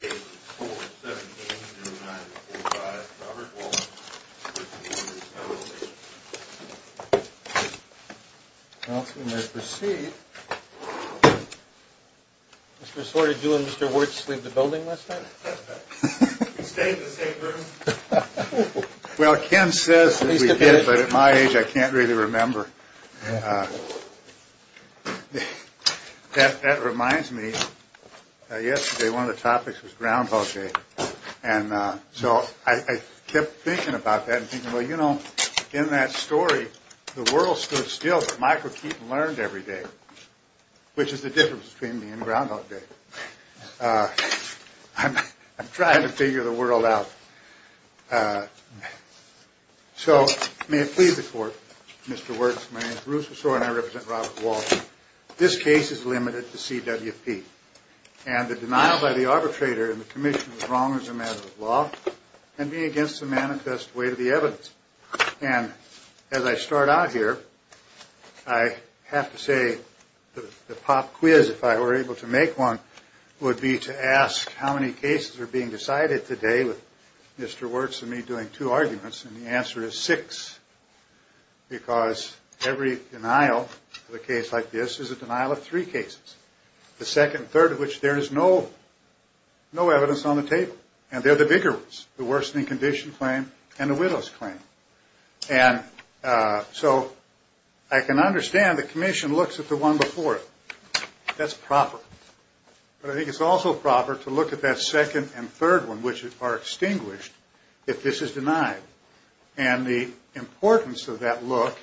Page 417-0945. Robert Wolfe, 15 years, no military service. Counsel may proceed. Mr. Sorda, did you and Mr. Wirtz leave the building last night? We stayed in the same room. Well, Ken says that we did, but at my age I can't really remember. That reminds me, yesterday one of the topics was Groundhog Day, and so I kept thinking about that and thinking, well, you know, in that story, the world stood still, but Michael Keaton learned every day, which is the difference between me and Groundhog Day. I'm trying to figure the world out. So may it please the Court, Mr. Wirtz, my name is Bruce Sorda and I represent Robert Wolfe. This case is limited to CWP, and the denial by the arbitrator in the commission was wrong as a matter of law and being against the manifest way to the evidence. And as I start out here, I have to say the pop quiz, if I were able to make one, would be to ask how many cases are being decided today with Mr. Wirtz and me doing two arguments, and the answer is six, because every denial of a case like this is a denial of three cases, the second third of which there is no evidence on the table. And they're the bigger ones, the worsening condition claim and the widow's claim. And so I can understand the commission looks at the one before it. That's proper. But I think it's also proper to look at that second and third one, which are extinguished if this is denied. And the importance of that look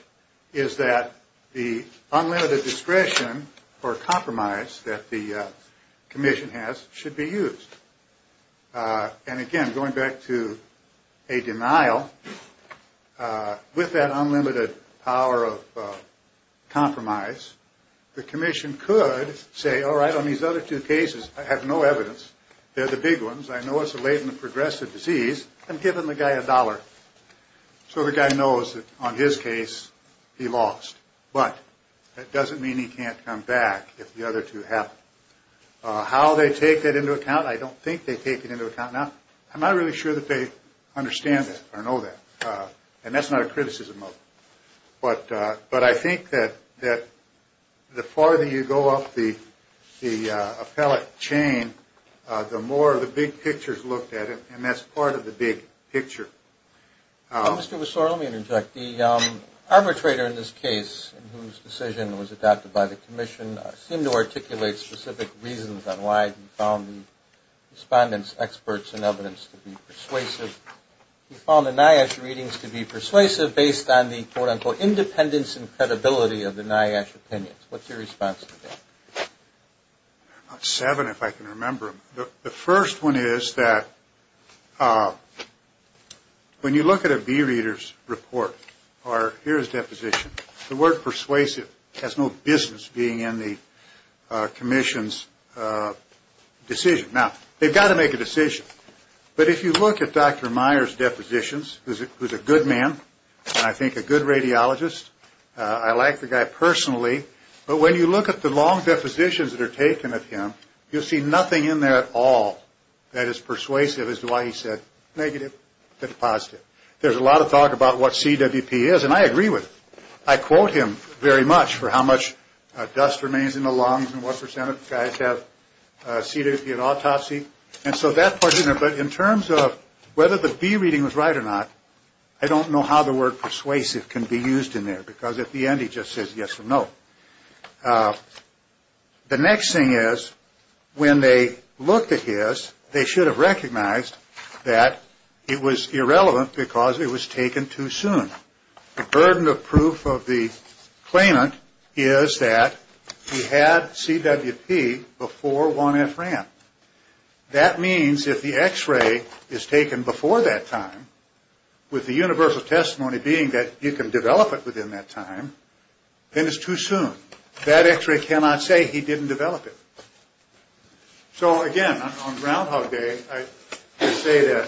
is that the unlimited discretion or compromise that the commission has should be used. And again, going back to a denial, with that unlimited power of compromise, the commission could say, all right, on these other two cases, I have no evidence. They're the big ones. I know it's a latent progressive disease. I'm giving the guy a dollar. So the guy knows that on his case, he lost. But that doesn't mean he can't come back if the other two happen. How they take that into account, I don't think they take it into account now. I'm not really sure that they understand that or know that. And that's not a criticism of them. But I think that the farther you go up the appellate chain, the more the big picture is looked at. And that's part of the big picture. Mr. Wessor, let me interject. The arbitrator in this case, whose decision was adopted by the commission, seemed to articulate specific reasons on why he found the respondents' experts and evidence to be persuasive. He found the NIOSH readings to be persuasive based on the, quote, unquote, independence and credibility of the NIOSH opinions. What's your response to that? There are about seven, if I can remember them. The first one is that when you look at a B Reader's report, or here's deposition, the word persuasive has no business being in the commission's decision. Now, they've got to make a decision. But if you look at Dr. Meyer's depositions, who's a good man and I think a good radiologist, I like the guy personally. But when you look at the long depositions that are taken of him, you'll see nothing in there at all that is persuasive as to why he said negative and positive. There's a lot of talk about what CWP is, and I agree with it. I quote him very much for how much dust remains in the lungs and what percent of guys have CWP and autopsy. And so that part is in there. But in terms of whether the B Reading was right or not, I don't know how the word persuasive can be used in there. Because at the end he just says yes or no. The next thing is when they looked at his, they should have recognized that it was irrelevant because it was taken too soon. The burden of proof of the claimant is that he had CWP before 1F ran. That means if the X-ray is taken before that time, with the universal testimony being that you can develop it within that time, then it's too soon. That X-ray cannot say he didn't develop it. So again, on Groundhog Day, I say that.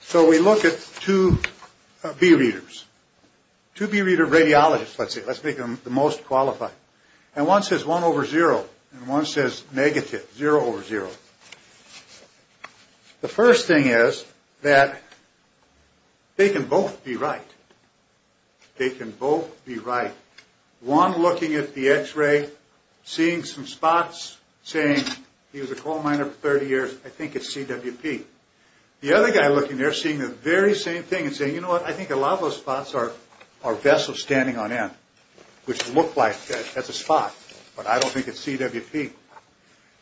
So we look at two B Readers, two B Reader radiologists, let's say. Let's make them the most qualified. And one says 1 over 0, and one says negative, 0 over 0. The first thing is that they can both be right. They can both be right. One looking at the X-ray, seeing some spots, saying he was a coal miner for 30 years. I think it's CWP. The other guy looking there seeing the very same thing and saying, you know what, I think a lot of those spots are vessels standing on end, which look like that's a spot. But I don't think it's CWP.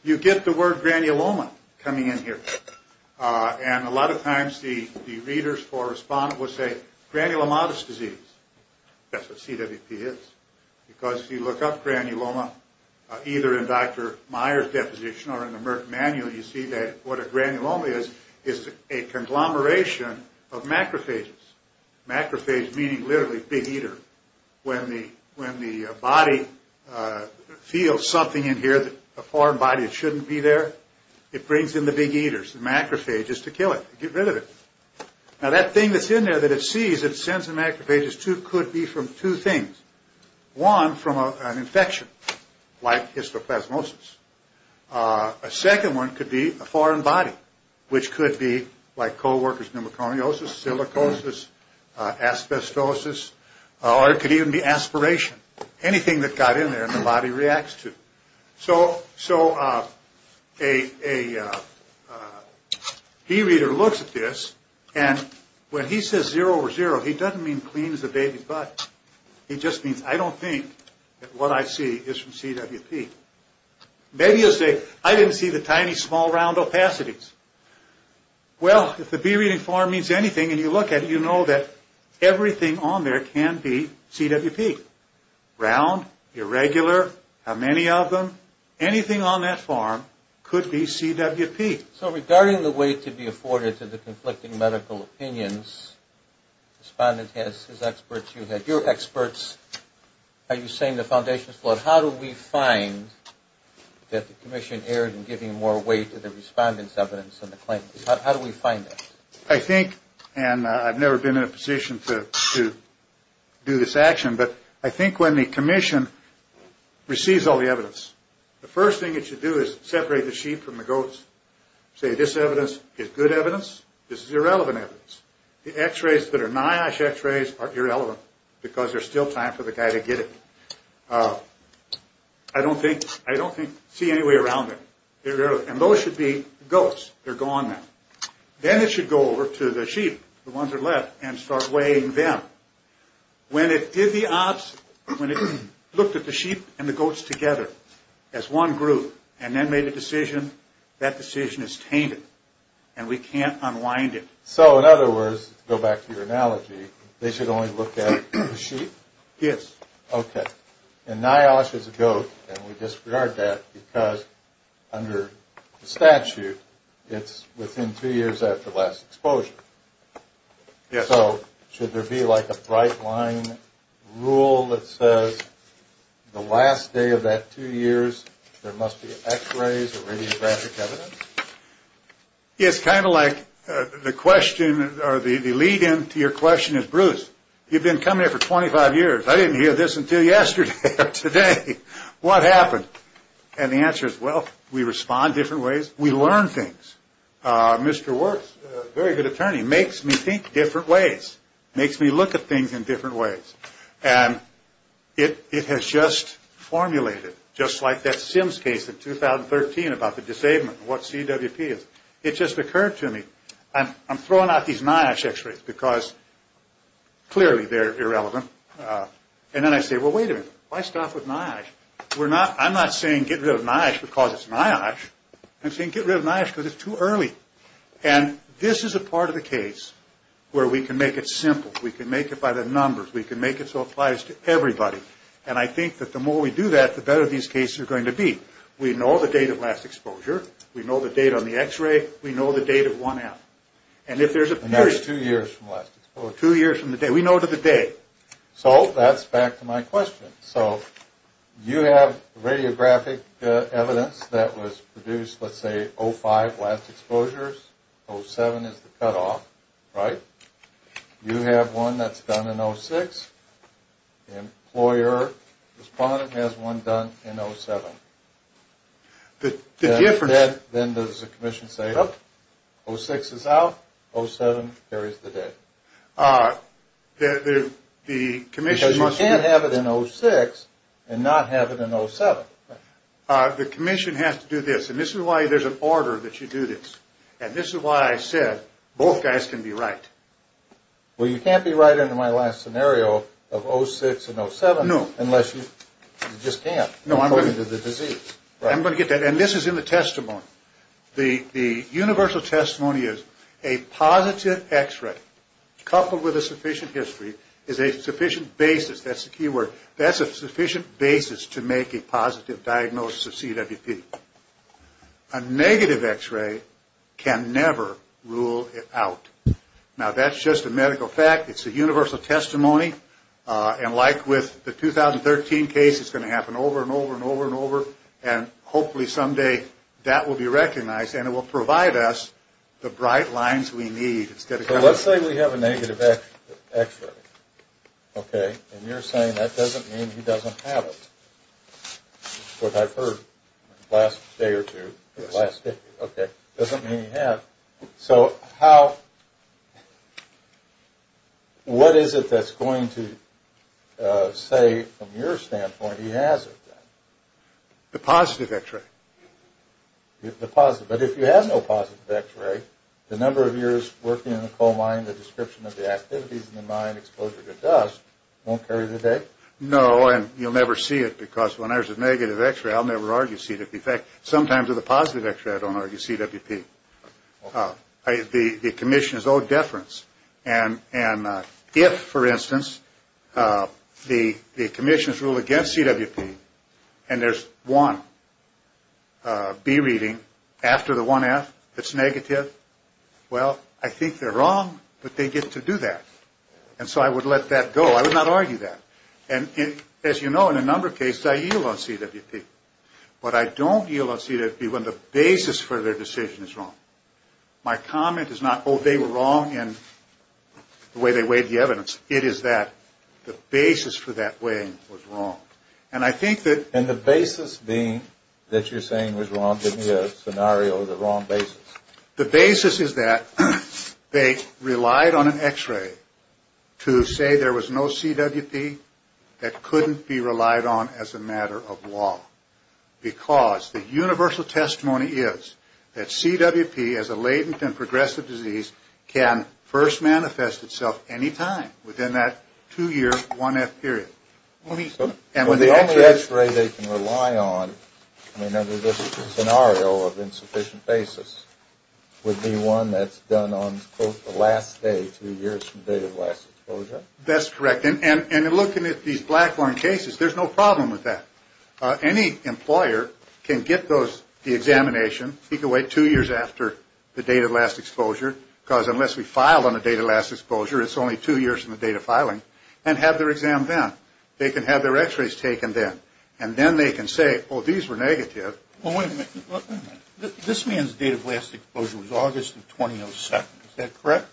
You get the word granuloma coming in here. And a lot of times the readers for a respondent will say granulomatous disease. That's what CWP is. Because if you look up granuloma, either in Dr. Meyer's deposition or in the Merck manual, you see that what a granuloma is, is a conglomeration of macrophages. Macrophage meaning literally big eater. When the body feels something in here, a foreign body that shouldn't be there, it brings in the big eaters, the macrophages, to kill it, to get rid of it. Now that thing that's in there that it sees, it sends the macrophages to, could be from two things. One, from an infection, like histoplasmosis. A second one could be a foreign body, which could be like co-workers' pneumoconiosis, silicosis, asbestosis, or it could even be aspiration. Anything that got in there and the body reacts to. So a bee reader looks at this, and when he says zero over zero, he doesn't mean clean as a baby's butt. He just means, I don't think that what I see is from CWP. Maybe he'll say, I didn't see the tiny small round opacities. Well, if the bee reading form means anything, and you look at it, you know that everything on there can be CWP. Round, irregular, how many of them, anything on that form could be CWP. So regarding the way to be afforded to the conflicting medical opinions, the respondent has his experts, you have your experts. Are you saying the foundation's flawed? How do we find that the commission erred in giving more weight to the respondent's evidence than the claimant? How do we find that? I think, and I've never been in a position to do this action, but I think when the commission receives all the evidence, the first thing it should do is separate the sheep from the goats. Say this evidence is good evidence, this is irrelevant evidence. The x-rays that are NIOSH x-rays are irrelevant because there's still time for the guy to get it. I don't think, I don't think, see any way around it. And those should be goats. They're gone now. Then it should go over to the sheep, the ones that are left, and start weighing them. When it did the opposite, when it looked at the sheep and the goats together as one group, and then made a decision, that decision is tainted, and we can't unwind it. So in other words, to go back to your analogy, they should only look at the sheep? Yes. Okay. And NIOSH is a goat, and we disregard that because under the statute, it's within two years after last exposure. Yes. So should there be like a bright line rule that says the last day of that two years, there must be x-rays or radiographic evidence? Yes, kind of like the question, or the lead-in to your question is Bruce. You've been coming here for 25 years. I didn't hear this until yesterday or today. What happened? And the answer is, well, we respond different ways. We learn things. Mr. Works, a very good attorney, makes me think different ways, makes me look at things in different ways. And it has just formulated, just like that Sims case in 2013 about the disablement, what CWP is. It just occurred to me. I'm throwing out these NIOSH x-rays because clearly they're irrelevant. And then I say, well, wait a minute. Why stop with NIOSH? I'm not saying get rid of NIOSH because it's NIOSH. I'm saying get rid of NIOSH because it's too early. And this is a part of the case where we can make it simple. We can make it by the numbers. We can make it so it applies to everybody. And I think that the more we do that, the better these cases are going to be. We know the date of last exposure. We know the date on the x-ray. We know the date of 1F. And if there's a period... And that's two years from last exposure. Two years from the day. We know to the day. So that's back to my question. So you have radiographic evidence that was produced, let's say, 05, last exposures. 07 is the cutoff, right? You have one that's done in 06. Employer, respondent has one done in 07. The difference... Then does the commission say, oh, 06 is out. 07 carries the date. The commission must... Because you can't have it in 06 and not have it in 07. The commission has to do this. And this is why there's an order that you do this. And this is why I said both guys can be right. Well, you can't be right in my last scenario of 06 and 07... No. Unless you just can't according to the disease. I'm going to get that. And this is in the testimony. The universal testimony is a positive x-ray coupled with a sufficient history is a sufficient basis. That's the key word. That's a sufficient basis to make a positive diagnosis of CWP. A negative x-ray can never rule it out. Now, that's just a medical fact. It's a universal testimony. And like with the 2013 case, it's going to happen over and over and over and over. And hopefully someday that will be recognized. And it will provide us the bright lines we need. So let's say we have a negative x-ray. Okay. And you're saying that doesn't mean he doesn't have it. What I've heard the last day or two. The last day. Okay. Doesn't mean he has. So what is it that's going to say from your standpoint he has it? The positive x-ray. The positive. But if you have no positive x-ray, the number of years working in the coal mine, the description of the activities in the mine, exposure to dust, won't carry the date? No, and you'll never see it because when there's a negative x-ray, I'll never argue CWP. In fact, sometimes with a positive x-ray, I don't argue CWP. The commission is owed deference. And if, for instance, the commission's rule against CWP and there's one B reading after the one F that's negative, well, I think they're wrong, but they get to do that. And so I would let that go. I would not argue that. And as you know, in a number of cases, I yield on CWP. But I don't yield on CWP when the basis for their decision is wrong. My comment is not, oh, they were wrong in the way they weighed the evidence. It is that the basis for that weighing was wrong. And I think that the basis is that they relied on an x-ray to say there was no CWP that couldn't be relied on as a matter of law. Because the universal testimony is that CWP, as a latent and progressive disease, can first manifest itself any time within that two-year, one-F period. And the only x-ray they can rely on, I mean, under this scenario of insufficient basis, would be one that's done on, quote, the last day, two years from date of last exposure. That's correct. And in looking at these Blackburn cases, there's no problem with that. Any employer can get the examination, take away two years after the date of last exposure, because unless we file on the date of last exposure, it's only two years from the date of filing, and have their exam then. They can have their x-rays taken then. And then they can say, oh, these were negative. Well, wait a minute. This man's date of last exposure was August of 2002. Is that correct?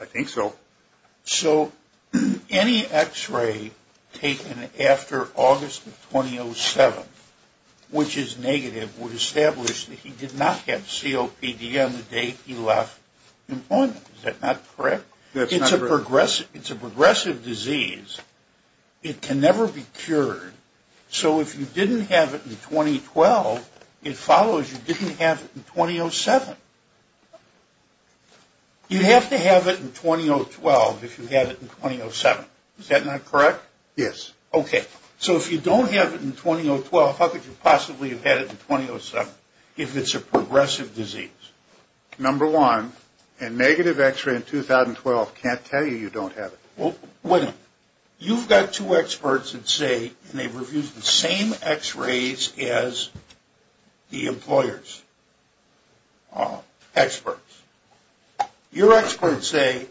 I think so. So any x-ray taken after August of 2007, which is negative, would establish that he did not have COPD on the date he left employment. Is that not correct? It's a progressive disease. It can never be cured. So if you didn't have it in 2012, it follows you didn't have it in 2007. You'd have to have it in 2012 if you had it in 2007. Is that not correct? Yes. Okay. So if you don't have it in 2012, how could you possibly have had it in 2007, if it's a progressive disease? Number one, a negative x-ray in 2012 can't tell you you don't have it. Well, wait a minute. You've got two experts that say, and they've reviewed the same x-rays as the employers. Experts. Your experts say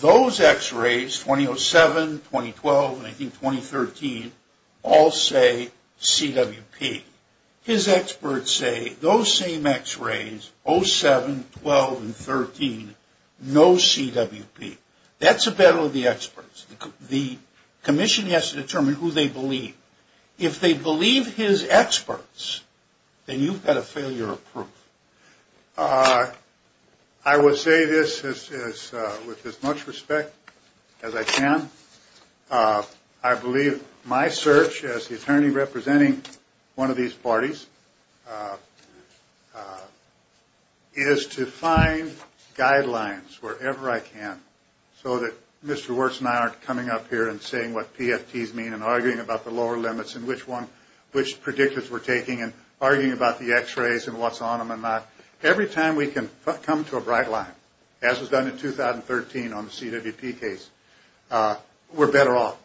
those x-rays, 2007, 2012, and I think 2013, all say CWP. His experts say those same x-rays, 07, 12, and 13, no CWP. That's a battle of the experts. The commission has to determine who they believe. If they believe his experts, then you've got a failure of proof. I will say this with as much respect as I can. I believe my search as the attorney representing one of these parties is to find guidelines wherever I can so that Mr. and which predictors we're taking and arguing about the x-rays and what's on them and not. Every time we can come to a bright line, as was done in 2013 on the CWP case, we're better off.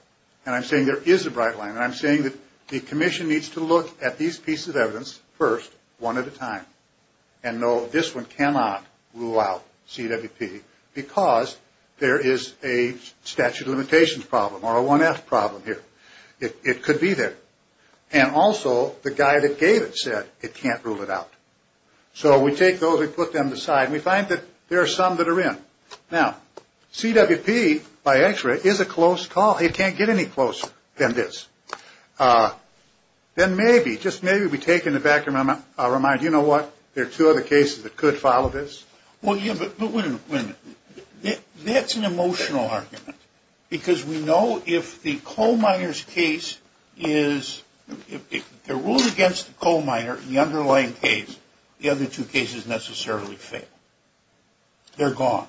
And I'm saying there is a bright line. And I'm saying that the commission needs to look at these pieces of evidence first, one at a time. And no, this one cannot rule out CWP because there is a statute of limitations problem or a 1F problem here. It could be there. And also, the guy that gave it said it can't rule it out. So we take those and put them aside. And we find that there are some that are in. Now, CWP by x-ray is a close call. It can't get any closer than this. Then maybe, just maybe we take it in the back of our mind, you know what? There are two other cases that could follow this. Well, yeah, but wait a minute. That's an emotional argument because we know if the coal miners case is, if they're ruled against the coal miner in the underlying case, the other two cases necessarily fail. They're gone.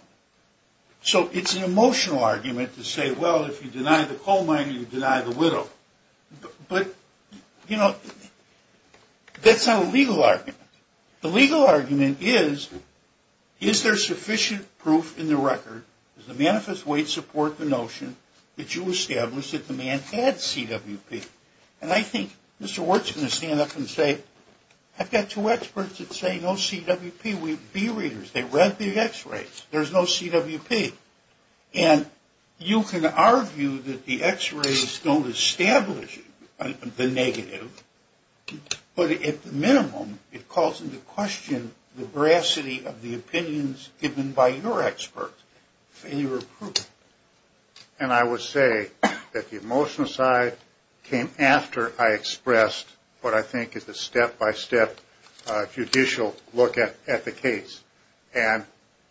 So it's an emotional argument to say, well, if you deny the coal miner, you deny the widow. But, you know, that's not a legal argument. The legal argument is, is there sufficient proof in the record? Does the manifest weight support the notion that you established that the man had CWP? And I think Mr. Wirtz is going to stand up and say, I've got two experts that say no CWP. We're B readers. They read the x-rays. There's no CWP. And you can argue that the x-rays don't establish the negative. But at the minimum, it calls into question the veracity of the opinions given by your expert. And your proof. And I would say that the emotional side came after I expressed what I think is a step-by-step judicial look at the case. And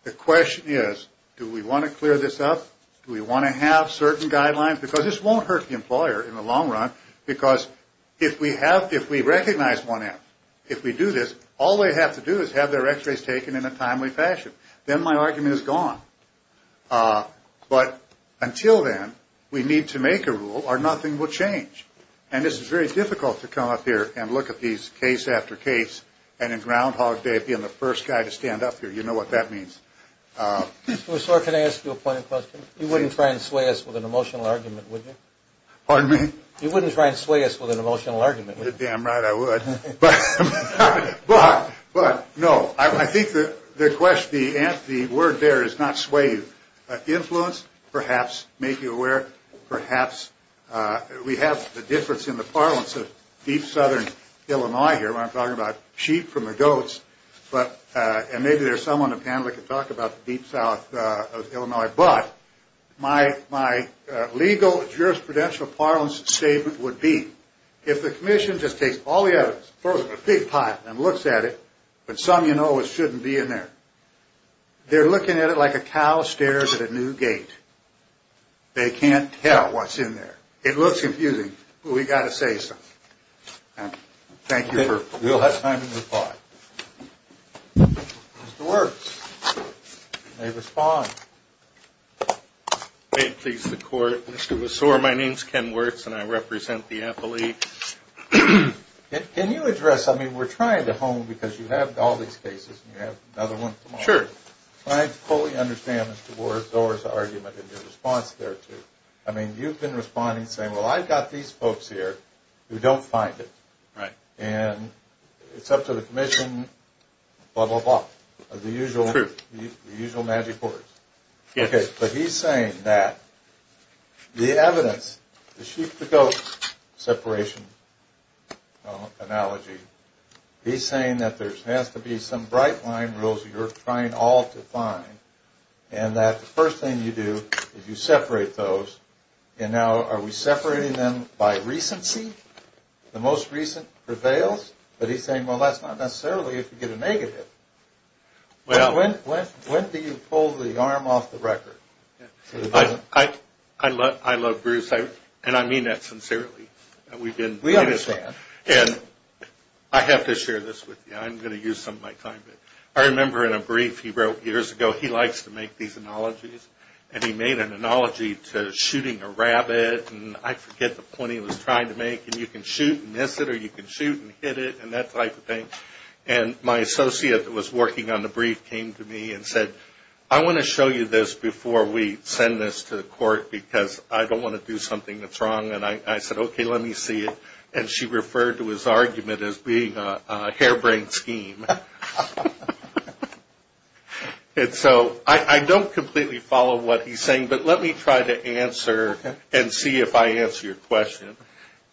the question is, do we want to clear this up? Do we want to have certain guidelines? Because this won't hurt the employer in the long run. Because if we have, if we recognize 1F, if we do this, all they have to do is have their x-rays taken in a timely fashion. Then my argument is gone. But until then, we need to make a rule or nothing will change. And this is very difficult to come up here and look at these case after case. And in Groundhog Day, being the first guy to stand up here, you know what that means. Mr. Wirtz, can I ask you a point of question? You wouldn't try and sway us with an emotional argument, would you? Pardon me? You wouldn't try and sway us with an emotional argument, would you? You're damn right I would. But, no. I think the question, the word there is not sway you. Influence, perhaps, make you aware, perhaps. We have the difference in the parlance of deep southern Illinois here when I'm talking about sheep from the goats. And maybe there's someone on the panel that can talk about the deep south of Illinois. But, my legal jurisprudential parlance statement would be, if the commission just takes all the evidence, throws it in a big pot and looks at it, but some of you know it shouldn't be in there. They're looking at it like a cow stares at a new gate. They can't tell what's in there. It looks confusing, but we've got to say something. Thank you. We'll have time to reply. Mr. Wirtz. May respond. May it please the court. Mr. Messore, my name's Ken Wirtz and I represent the appellee. Can you address, I mean, we're trying to hone, because you have all these cases and you have another one tomorrow. Sure. I fully understand Mr. Wirtz's argument and your response there, too. I mean, you've been responding saying, well, I've got these folks here who don't find it. Right. And it's up to the commission, blah, blah, blah, the usual magic words. But he's saying that the evidence, the sheep, the goat separation analogy, he's saying that there has to be some bright line rules you're trying all to find, and that the first thing you do is you separate those. And now are we separating them by recency? The most recent prevails? But he's saying, well, that's not necessarily if you get a negative. When do you pull the arm off the record? I love Bruce, and I mean that sincerely. We understand. And I have to share this with you. I'm going to use some of my time. I remember in a brief he wrote years ago, he likes to make these analogies, and he made an analogy to shooting a rabbit, and I forget the point he was trying to make, and you can shoot and miss it, or you can shoot and hit it, and that type of thing. And my associate that was working on the brief came to me and said, I want to show you this before we send this to the court, because I don't want to do something that's wrong. And I said, okay, let me see it. And she referred to his argument as being a harebrained scheme. And so I don't completely follow what he's saying, but let me try to answer and see if I answer your question.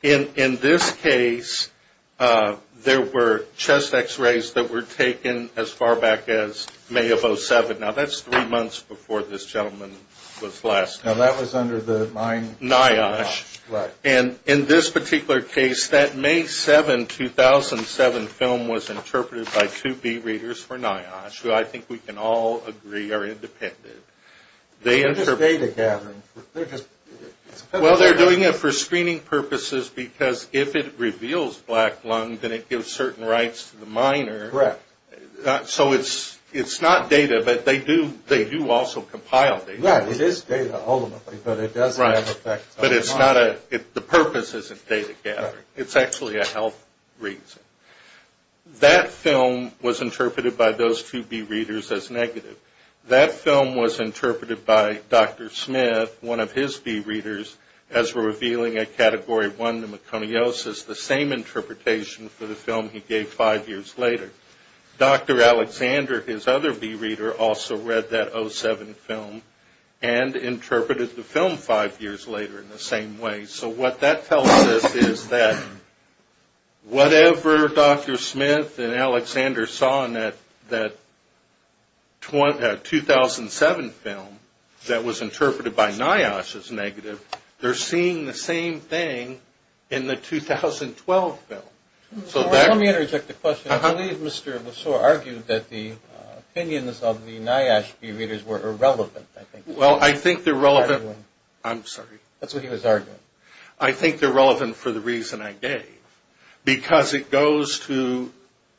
In this case, there were chest X-rays that were taken as far back as May of 07. Now, that's three months before this gentleman was last. Now, that was under the mine. NIOSH. Right. And in this particular case, that May 7, 2007, film was interpreted by two B readers for NIOSH, who I think we can all agree are independent. They interpreted it for screening purposes, because if it reveals black lung, then it gives certain rights to the miner. So it's not data, but they do also compile data. Right. It is data ultimately, but it does have effects on the miner. But the purpose isn't data gathering. It's actually a health reason. That film was interpreted by those two B readers as negative. That film was interpreted by Dr. Smith, one of his B readers, as revealing a Category 1 pneumoconiosis, the same interpretation for the film he gave five years later. Dr. Alexander, his other B reader, also read that 07 film and interpreted the film five years later in the same way. So what that tells us is that whatever Dr. Smith and Dr. Alexander saw in that 2007 film that was interpreted by NIOSH as negative, they're seeing the same thing in the 2012 film. Let me interject a question. I believe Mr. Lesseur argued that the opinions of the NIOSH B readers were irrelevant. Well, I think they're relevant. I'm sorry. That's what he was arguing. I think they're relevant for the reason I gave, because it goes to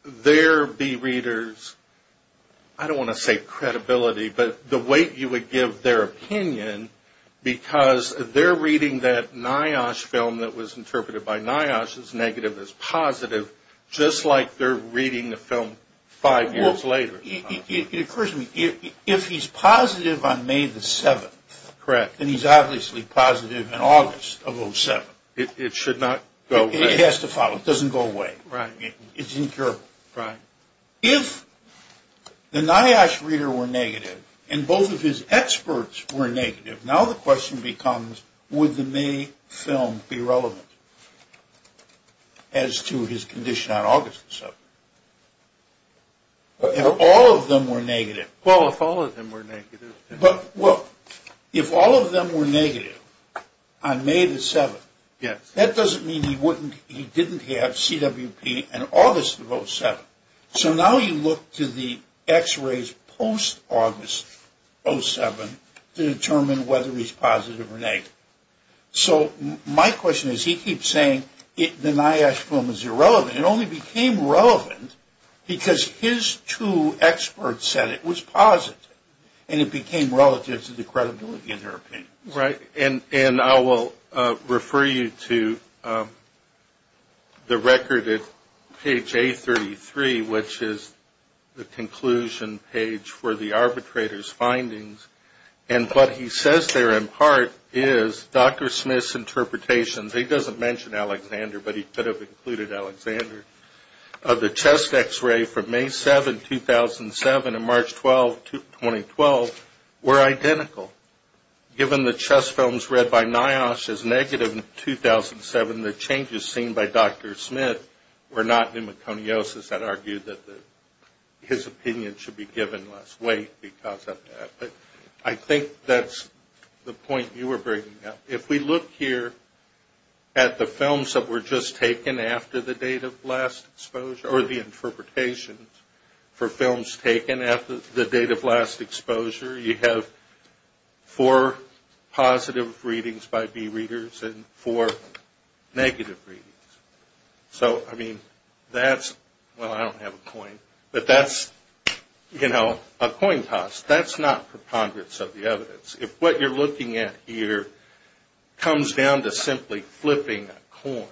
their B readers, I don't want to say credibility, but the way you would give their opinion, because they're reading that NIOSH film that was interpreted by NIOSH as negative, as positive, just like they're reading the film five years later. It occurs to me, if he's positive on May the 7th, Correct. then he's obviously positive in August of 07. It should not go away. It has to follow. It doesn't go away. Right. It's incurable. Right. If the NIOSH reader were negative and both of his experts were negative, now the question becomes would the May film be relevant as to his condition on August the 7th? If all of them were negative. Well, if all of them were negative. Well, if all of them were negative on May the 7th, that doesn't mean he didn't have CWP in August of 07. So now you look to the x-rays post-August 07 to determine whether he's positive or negative. So my question is, he keeps saying the NIOSH film is irrelevant. It only became relevant because his two experts said it was positive, and it became relative to the credibility of their opinion. Right. And I will refer you to the record at page A33, which is the conclusion page for the arbitrator's findings. And what he says there in part is Dr. Smith's interpretations, he doesn't mention Alexander, but he could have included Alexander, of the chest x-ray from May 7, 2007 to March 12, 2012 were identical. Given the chest films read by NIOSH as negative in 2007, the changes seen by Dr. Smith were not pneumoconiosis. I'd argue that his opinion should be given less weight because of that. But I think that's the point you were bringing up. If we look here at the films that were just taken after the date of last exposure, or the interpretations for films taken after the date of last exposure, you have four positive readings by B readers and four negative readings. So, I mean, that's, well, I don't have a coin, but that's, you know, a coin toss. That's not preponderance of the evidence. If what you're looking at here comes down to simply flipping a coin,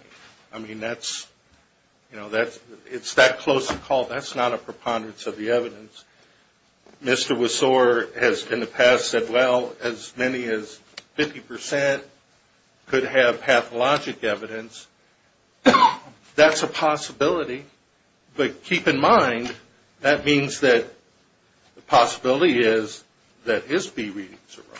I mean, that's, you know, it's that close a call. That's not a preponderance of the evidence. Mr. Wasore has in the past said, well, as many as 50% could have pathologic evidence. That's a possibility. But keep in mind, that means that the possibility is that his B readings are wrong.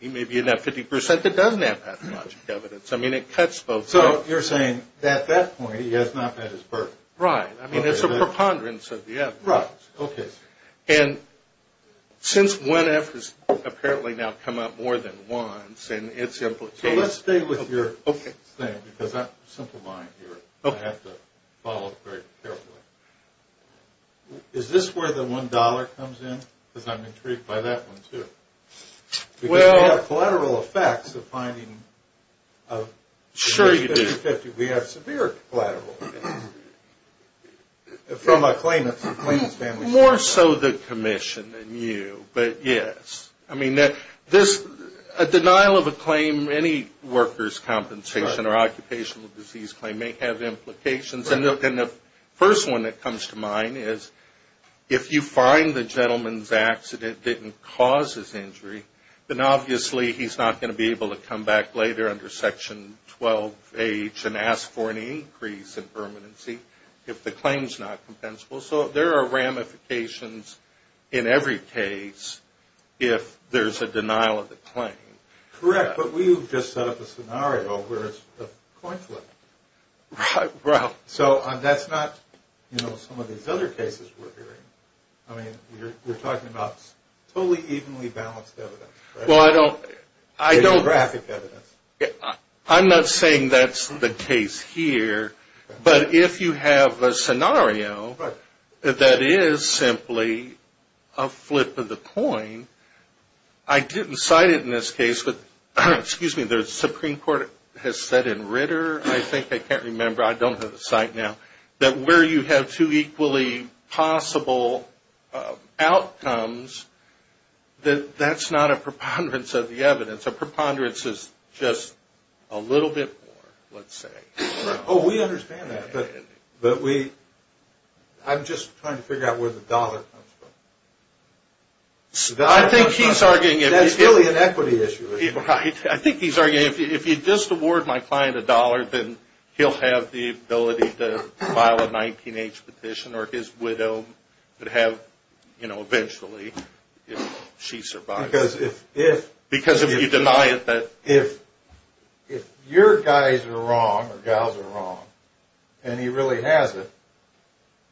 He may be in that 50% that doesn't have pathologic evidence. I mean, it cuts both ways. So you're saying that at that point he has not met his birth? Right. I mean, it's a preponderance of the evidence. Right. Okay. And since 1F has apparently now come up more than once, and it's implicated. So let's stay with your thing, because I'm simplifying here. I have to follow it very carefully. Is this where the $1 comes in? Because I'm intrigued by that one, too. Because we have collateral effects of finding a 50-50. We have severe collateral effects from a claimant's family. More so the commission than you, but yes. I mean, a denial of a claim, any worker's compensation or occupational disease claim may have implications. And the first one that comes to mind is if you find the gentleman's accident didn't cause his injury, then obviously he's not going to be able to come back later under Section 12H and ask for an increase in permanency if the claim's not compensable. So there are ramifications in every case if there's a denial of the claim. Correct. But we have just set up a scenario where it's a coin flip. Right. So that's not, you know, some of these other cases we're hearing. I mean, you're talking about totally evenly balanced evidence, right? Well, I don't. Phenographic evidence. I'm not saying that's the case here. But if you have a scenario that is simply a flip of the coin, I didn't cite it in this case. But, excuse me, the Supreme Court has said in Ritter, I think, I can't remember, I don't have the site now, that where you have two equally possible outcomes, that that's not a preponderance of the evidence. A preponderance is just a little bit more, let's say. Oh, we understand that. But we, I'm just trying to figure out where the dollar comes from. I think he's arguing. That's really an equity issue. Right. I think he's arguing, if you just award my client a dollar, then he'll have the ability to file a 19-H petition, or his widow would have, you know, eventually, if she survives. Because if. Because if you deny it. If your guys are wrong, or gals are wrong, and he really has it,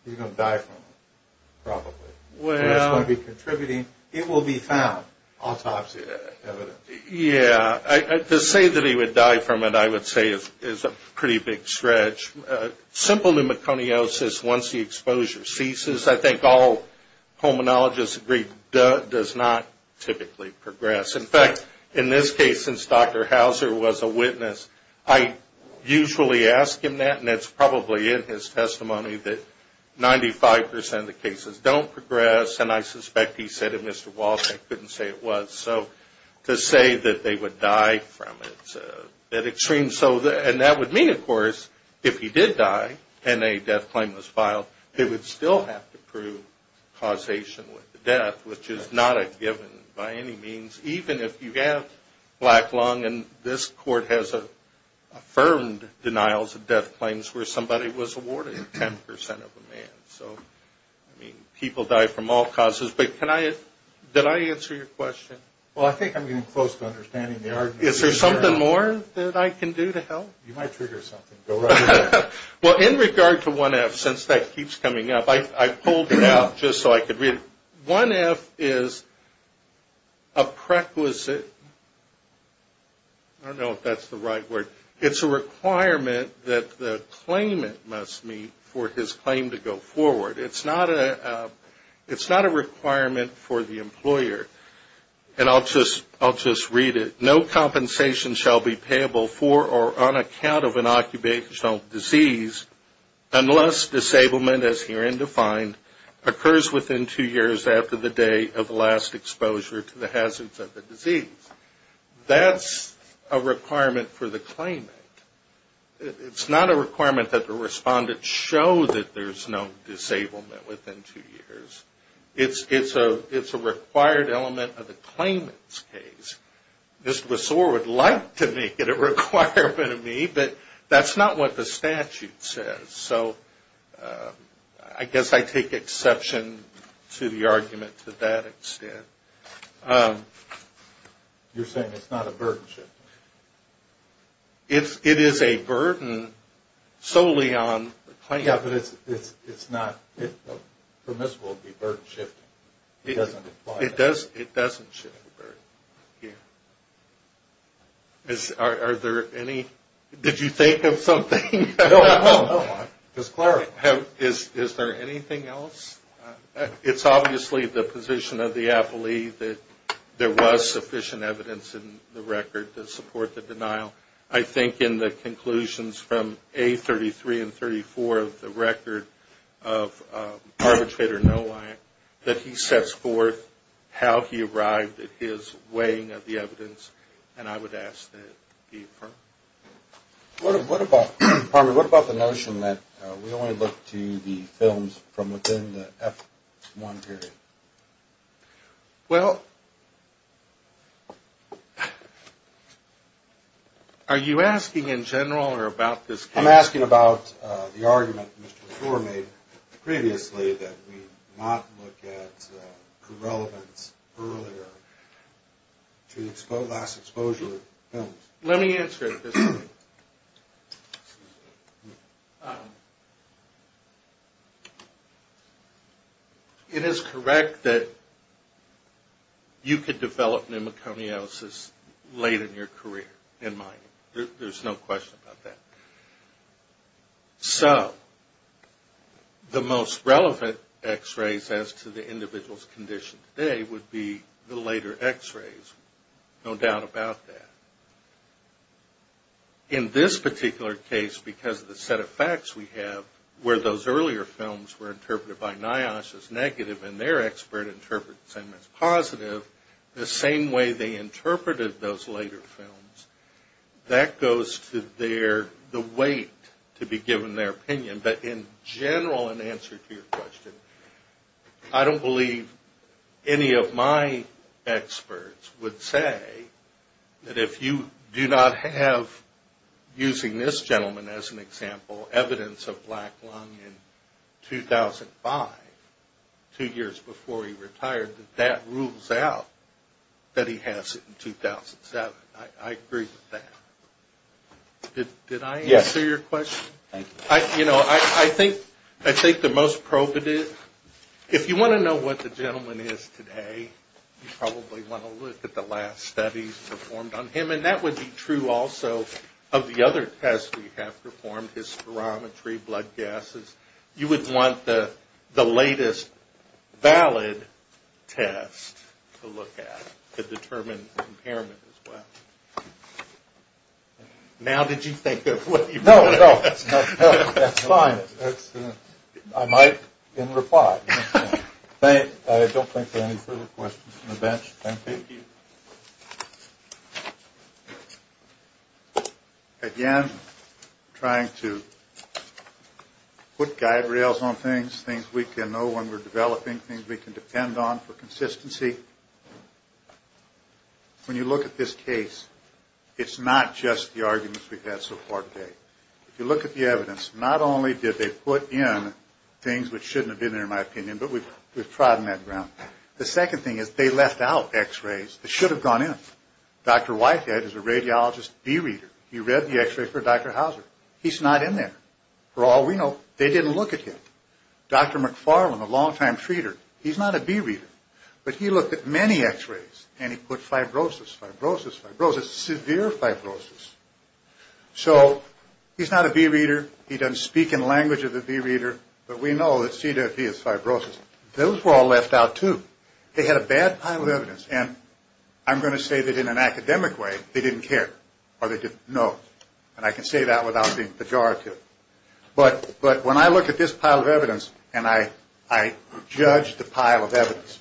he's going to die from it, probably. Well. He's going to be contributing. It will be found, autopsy evidence. Yeah. To say that he would die from it, I would say, is a pretty big stretch. Simple pneumoconiosis, once the exposure ceases, I think all pulmonologists agree, does not typically progress. In fact, in this case, since Dr. Hauser was a witness, I usually ask him that, and it's probably in his testimony that 95% of the cases don't progress, and I suspect he said it, Mr. Walsh, I couldn't say it was. So, to say that they would die from it, it's a bit extreme. So, and that would mean, of course, if he did die, and a death claim was filed, they would still have to prove causation with the death, which is not a given by any means, even if you have black lung, and this court has affirmed denials of death claims, where somebody was awarded 10% of the man. So, I mean, people die from all causes. But can I, did I answer your question? Well, I think I'm getting close to understanding the argument. Is there something more that I can do to help? You might trigger something. Go right ahead. Well, in regard to 1F, since that keeps coming up, I pulled it out just so I could read it. 1F is a prequisite, I don't know if that's the right word, it's a requirement that the claimant must meet for his claim to go forward. It's not a requirement for the employer. And I'll just read it. No compensation shall be payable for or on account of an occupational disease unless disablement, as herein defined, occurs within two years after the day of last exposure to the hazards of the disease. That's a requirement for the claimant. It's not a requirement that the respondent show that there's no disablement within two years. It's a required element of the claimant's case. Ms. Ressour would like to make it a requirement of me, but that's not what the statute says. So I guess I take exception to the argument to that extent. You're saying it's not a burden shifting? It is a burden solely on the claimant. Yeah, but it's not permissible to be burden shifting. It doesn't apply. It doesn't shift the burden. Are there any? Did you think of something? No, I'm just clarifying. Is there anything else? It's obviously the position of the appellee that there was sufficient evidence in the record to support the denial. I think in the conclusions from A33 and 34 of the record of Arbitrator Nowak, that he sets forth how he arrived at his weighing of the evidence, and I would ask that it be affirmed. What about the notion that we only look to the films from within the F-1 period? Well, are you asking in general or about this case? I'm asking about the argument Mr. Ressour made previously that we not look at the relevance earlier to last exposure films. Let me answer it this way. It is correct that you could develop pneumoconiosis late in your career in mining. There's no question about that. So the most relevant x-rays as to the individual's condition today would be the later x-rays. No doubt about that. In this particular case, because of the set of facts we have, where those earlier films were interpreted by NIOSH as negative and their expert interprets them as positive, the same way they interpreted those later films, that goes to the weight to be given their opinion. But in general, in answer to your question, I don't believe any of my experts would say that if you do not have, using this gentleman as an example, evidence of black lung in 2005, two years before he retired, that that rules out that he has it in 2007. I agree with that. Did I answer your question? Yes. Thank you. You know, I think the most probative, if you want to know what the gentleman is today, you probably want to look at the last studies performed on him. And that would be true also of the other tests we have performed, his spirometry, blood gases. You would want the latest valid test to look at to determine impairment as well. Now did you think of what you were going to ask? No, no. That's fine. I might in reply. I don't think there are any further questions from the bench. Thank you. Thank you. Thank you. Again, trying to put guide rails on things, things we can know when we're developing, things we can depend on for consistency. When you look at this case, it's not just the arguments we've had so far today. If you look at the evidence, not only did they put in things which shouldn't have been there in my opinion, but we've trodden that ground. The second thing is they left out X-rays that should have gone in. Dr. Whitehead is a radiologist B-reader. He read the X-ray for Dr. Hauser. He's not in there. For all we know, they didn't look at him. Dr. McFarland, a long-time treater, he's not a B-reader, but he looked at many X-rays and he put fibrosis, fibrosis, fibrosis, severe fibrosis. So he's not a B-reader. He doesn't speak in language of the B-reader, but we know that CWV is fibrosis. Those were all left out too. They had a bad pile of evidence, and I'm going to say that in an academic way they didn't care or they didn't know, and I can say that without being pejorative. But when I look at this pile of evidence and I judge the pile of evidence,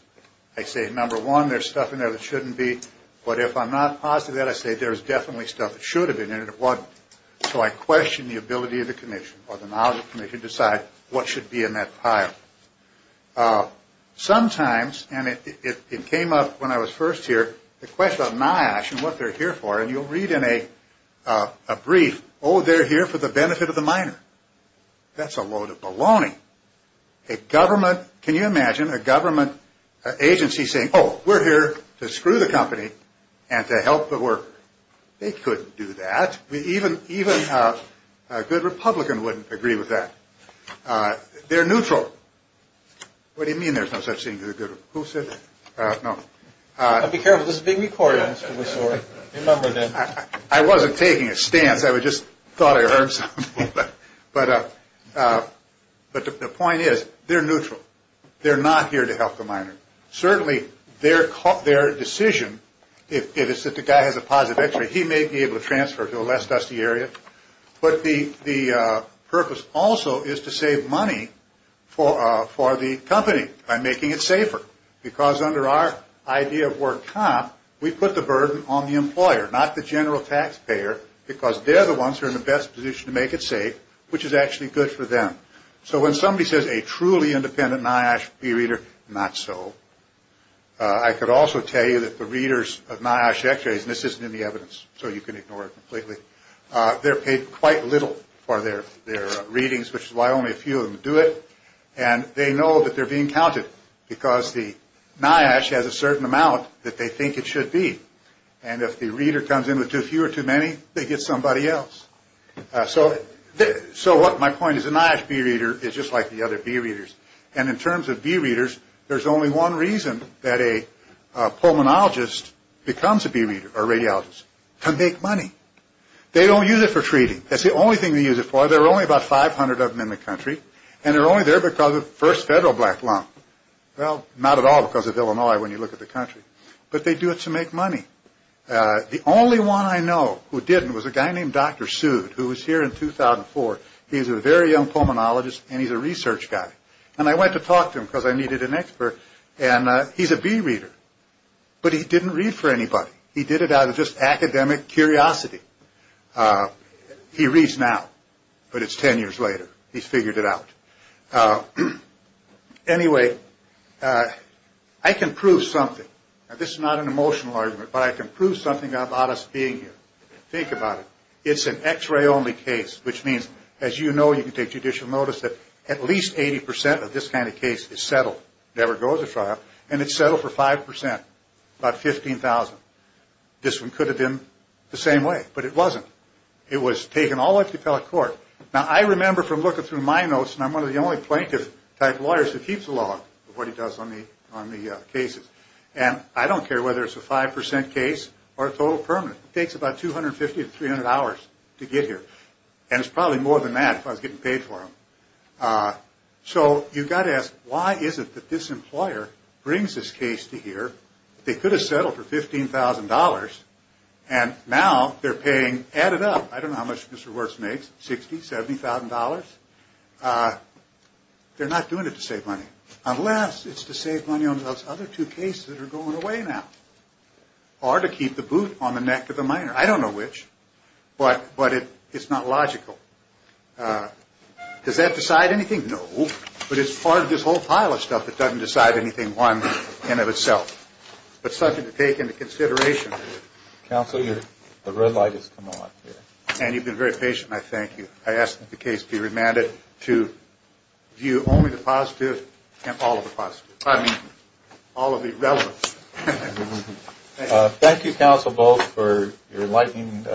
I say, number one, there's stuff in there that shouldn't be, but if I'm not positive of that, I say there's definitely stuff that should have been in it and it wasn't. So I question the ability of the commission or the knowledge of the commission to decide what should be in that pile. Sometimes, and it came up when I was first here, the question of NIOSH and what they're here for, and you'll read in a brief, oh, they're here for the benefit of the miner. That's a load of baloney. A government, can you imagine a government agency saying, oh, we're here to screw the company and to help the worker? They couldn't do that. Even a good Republican wouldn't agree with that. They're neutral. What do you mean there's no such thing as a good Republican? Who said that? No. Be careful. This is being recorded. I'm sorry. Remember that. I wasn't taking a stance. I just thought I heard something. But the point is, they're neutral. They're not here to help the miner. Certainly, their decision, if it's that the guy has a positive X-ray, he may be able to transfer to a less dusty area. But the purpose also is to save money for the company by making it safer. Because under our idea of work comp, we put the burden on the employer, not the general taxpayer, because they're the ones who are in the best position to make it safe, which is actually good for them. So when somebody says a truly independent NIOSH peer reader, not so. I could also tell you that the readers of NIOSH X-rays, and this isn't in the evidence, so you can ignore it completely, they're paid quite little for their readings, which is why only a few of them do it. And they know that they're being counted because the NIOSH has a certain amount that they think it should be. And if the reader comes in with too few or too many, they get somebody else. So what my point is, a NIOSH peer reader is just like the other peer readers. And in terms of peer readers, there's only one reason that a pulmonologist becomes a peer reader or radiologist. To make money. They don't use it for treating. That's the only thing they use it for. There are only about 500 of them in the country. And they're only there because of first federal black lung. Well, not at all because of Illinois when you look at the country. But they do it to make money. The only one I know who didn't was a guy named Dr. Sued, who was here in 2004. He's a very young pulmonologist and he's a research guy. And I went to talk to him because I needed an expert. And he's a bee reader, but he didn't read for anybody. He did it out of just academic curiosity. He reads now, but it's 10 years later. He's figured it out. Anyway, I can prove something. Now, this is not an emotional argument, but I can prove something about us being here. Think about it. It's an x-ray only case, which means, as you know, you can take judicial notice that at least 80% of this kind of case is settled. It never goes to trial. And it's settled for 5%, about 15,000. This one could have been the same way, but it wasn't. It was taken all up to appellate court. Now, I remember from looking through my notes, and I'm one of the only plaintiff type lawyers who keeps a log of what he does on the cases. And I don't care whether it's a 5% case or a total permanent. It takes about 250 to 300 hours to get here. And it's probably more than that if I was getting paid for them. So you've got to ask, why is it that this employer brings this case to here? They could have settled for $15,000, and now they're paying added up. I don't know how much Mr. Wertz makes, $60,000, $70,000. They're not doing it to save money. Unless it's to save money on those other two cases that are going away now. Or to keep the boot on the neck of the miner. I don't know which. But it's not logical. Does that decide anything? No. But it's part of this whole pile of stuff that doesn't decide anything in and of itself. But something to take into consideration. Counsel, the red light has come on. And you've been very patient, and I thank you. I ask that the case be remanded to view only the positive and all of the positive. I mean all of the relevant. Thank you. Thank you, Counsel Bolt, for your enlightening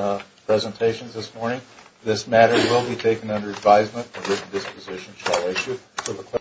presentations this morning. This matter will be taken under advisement and written disposition shall issue.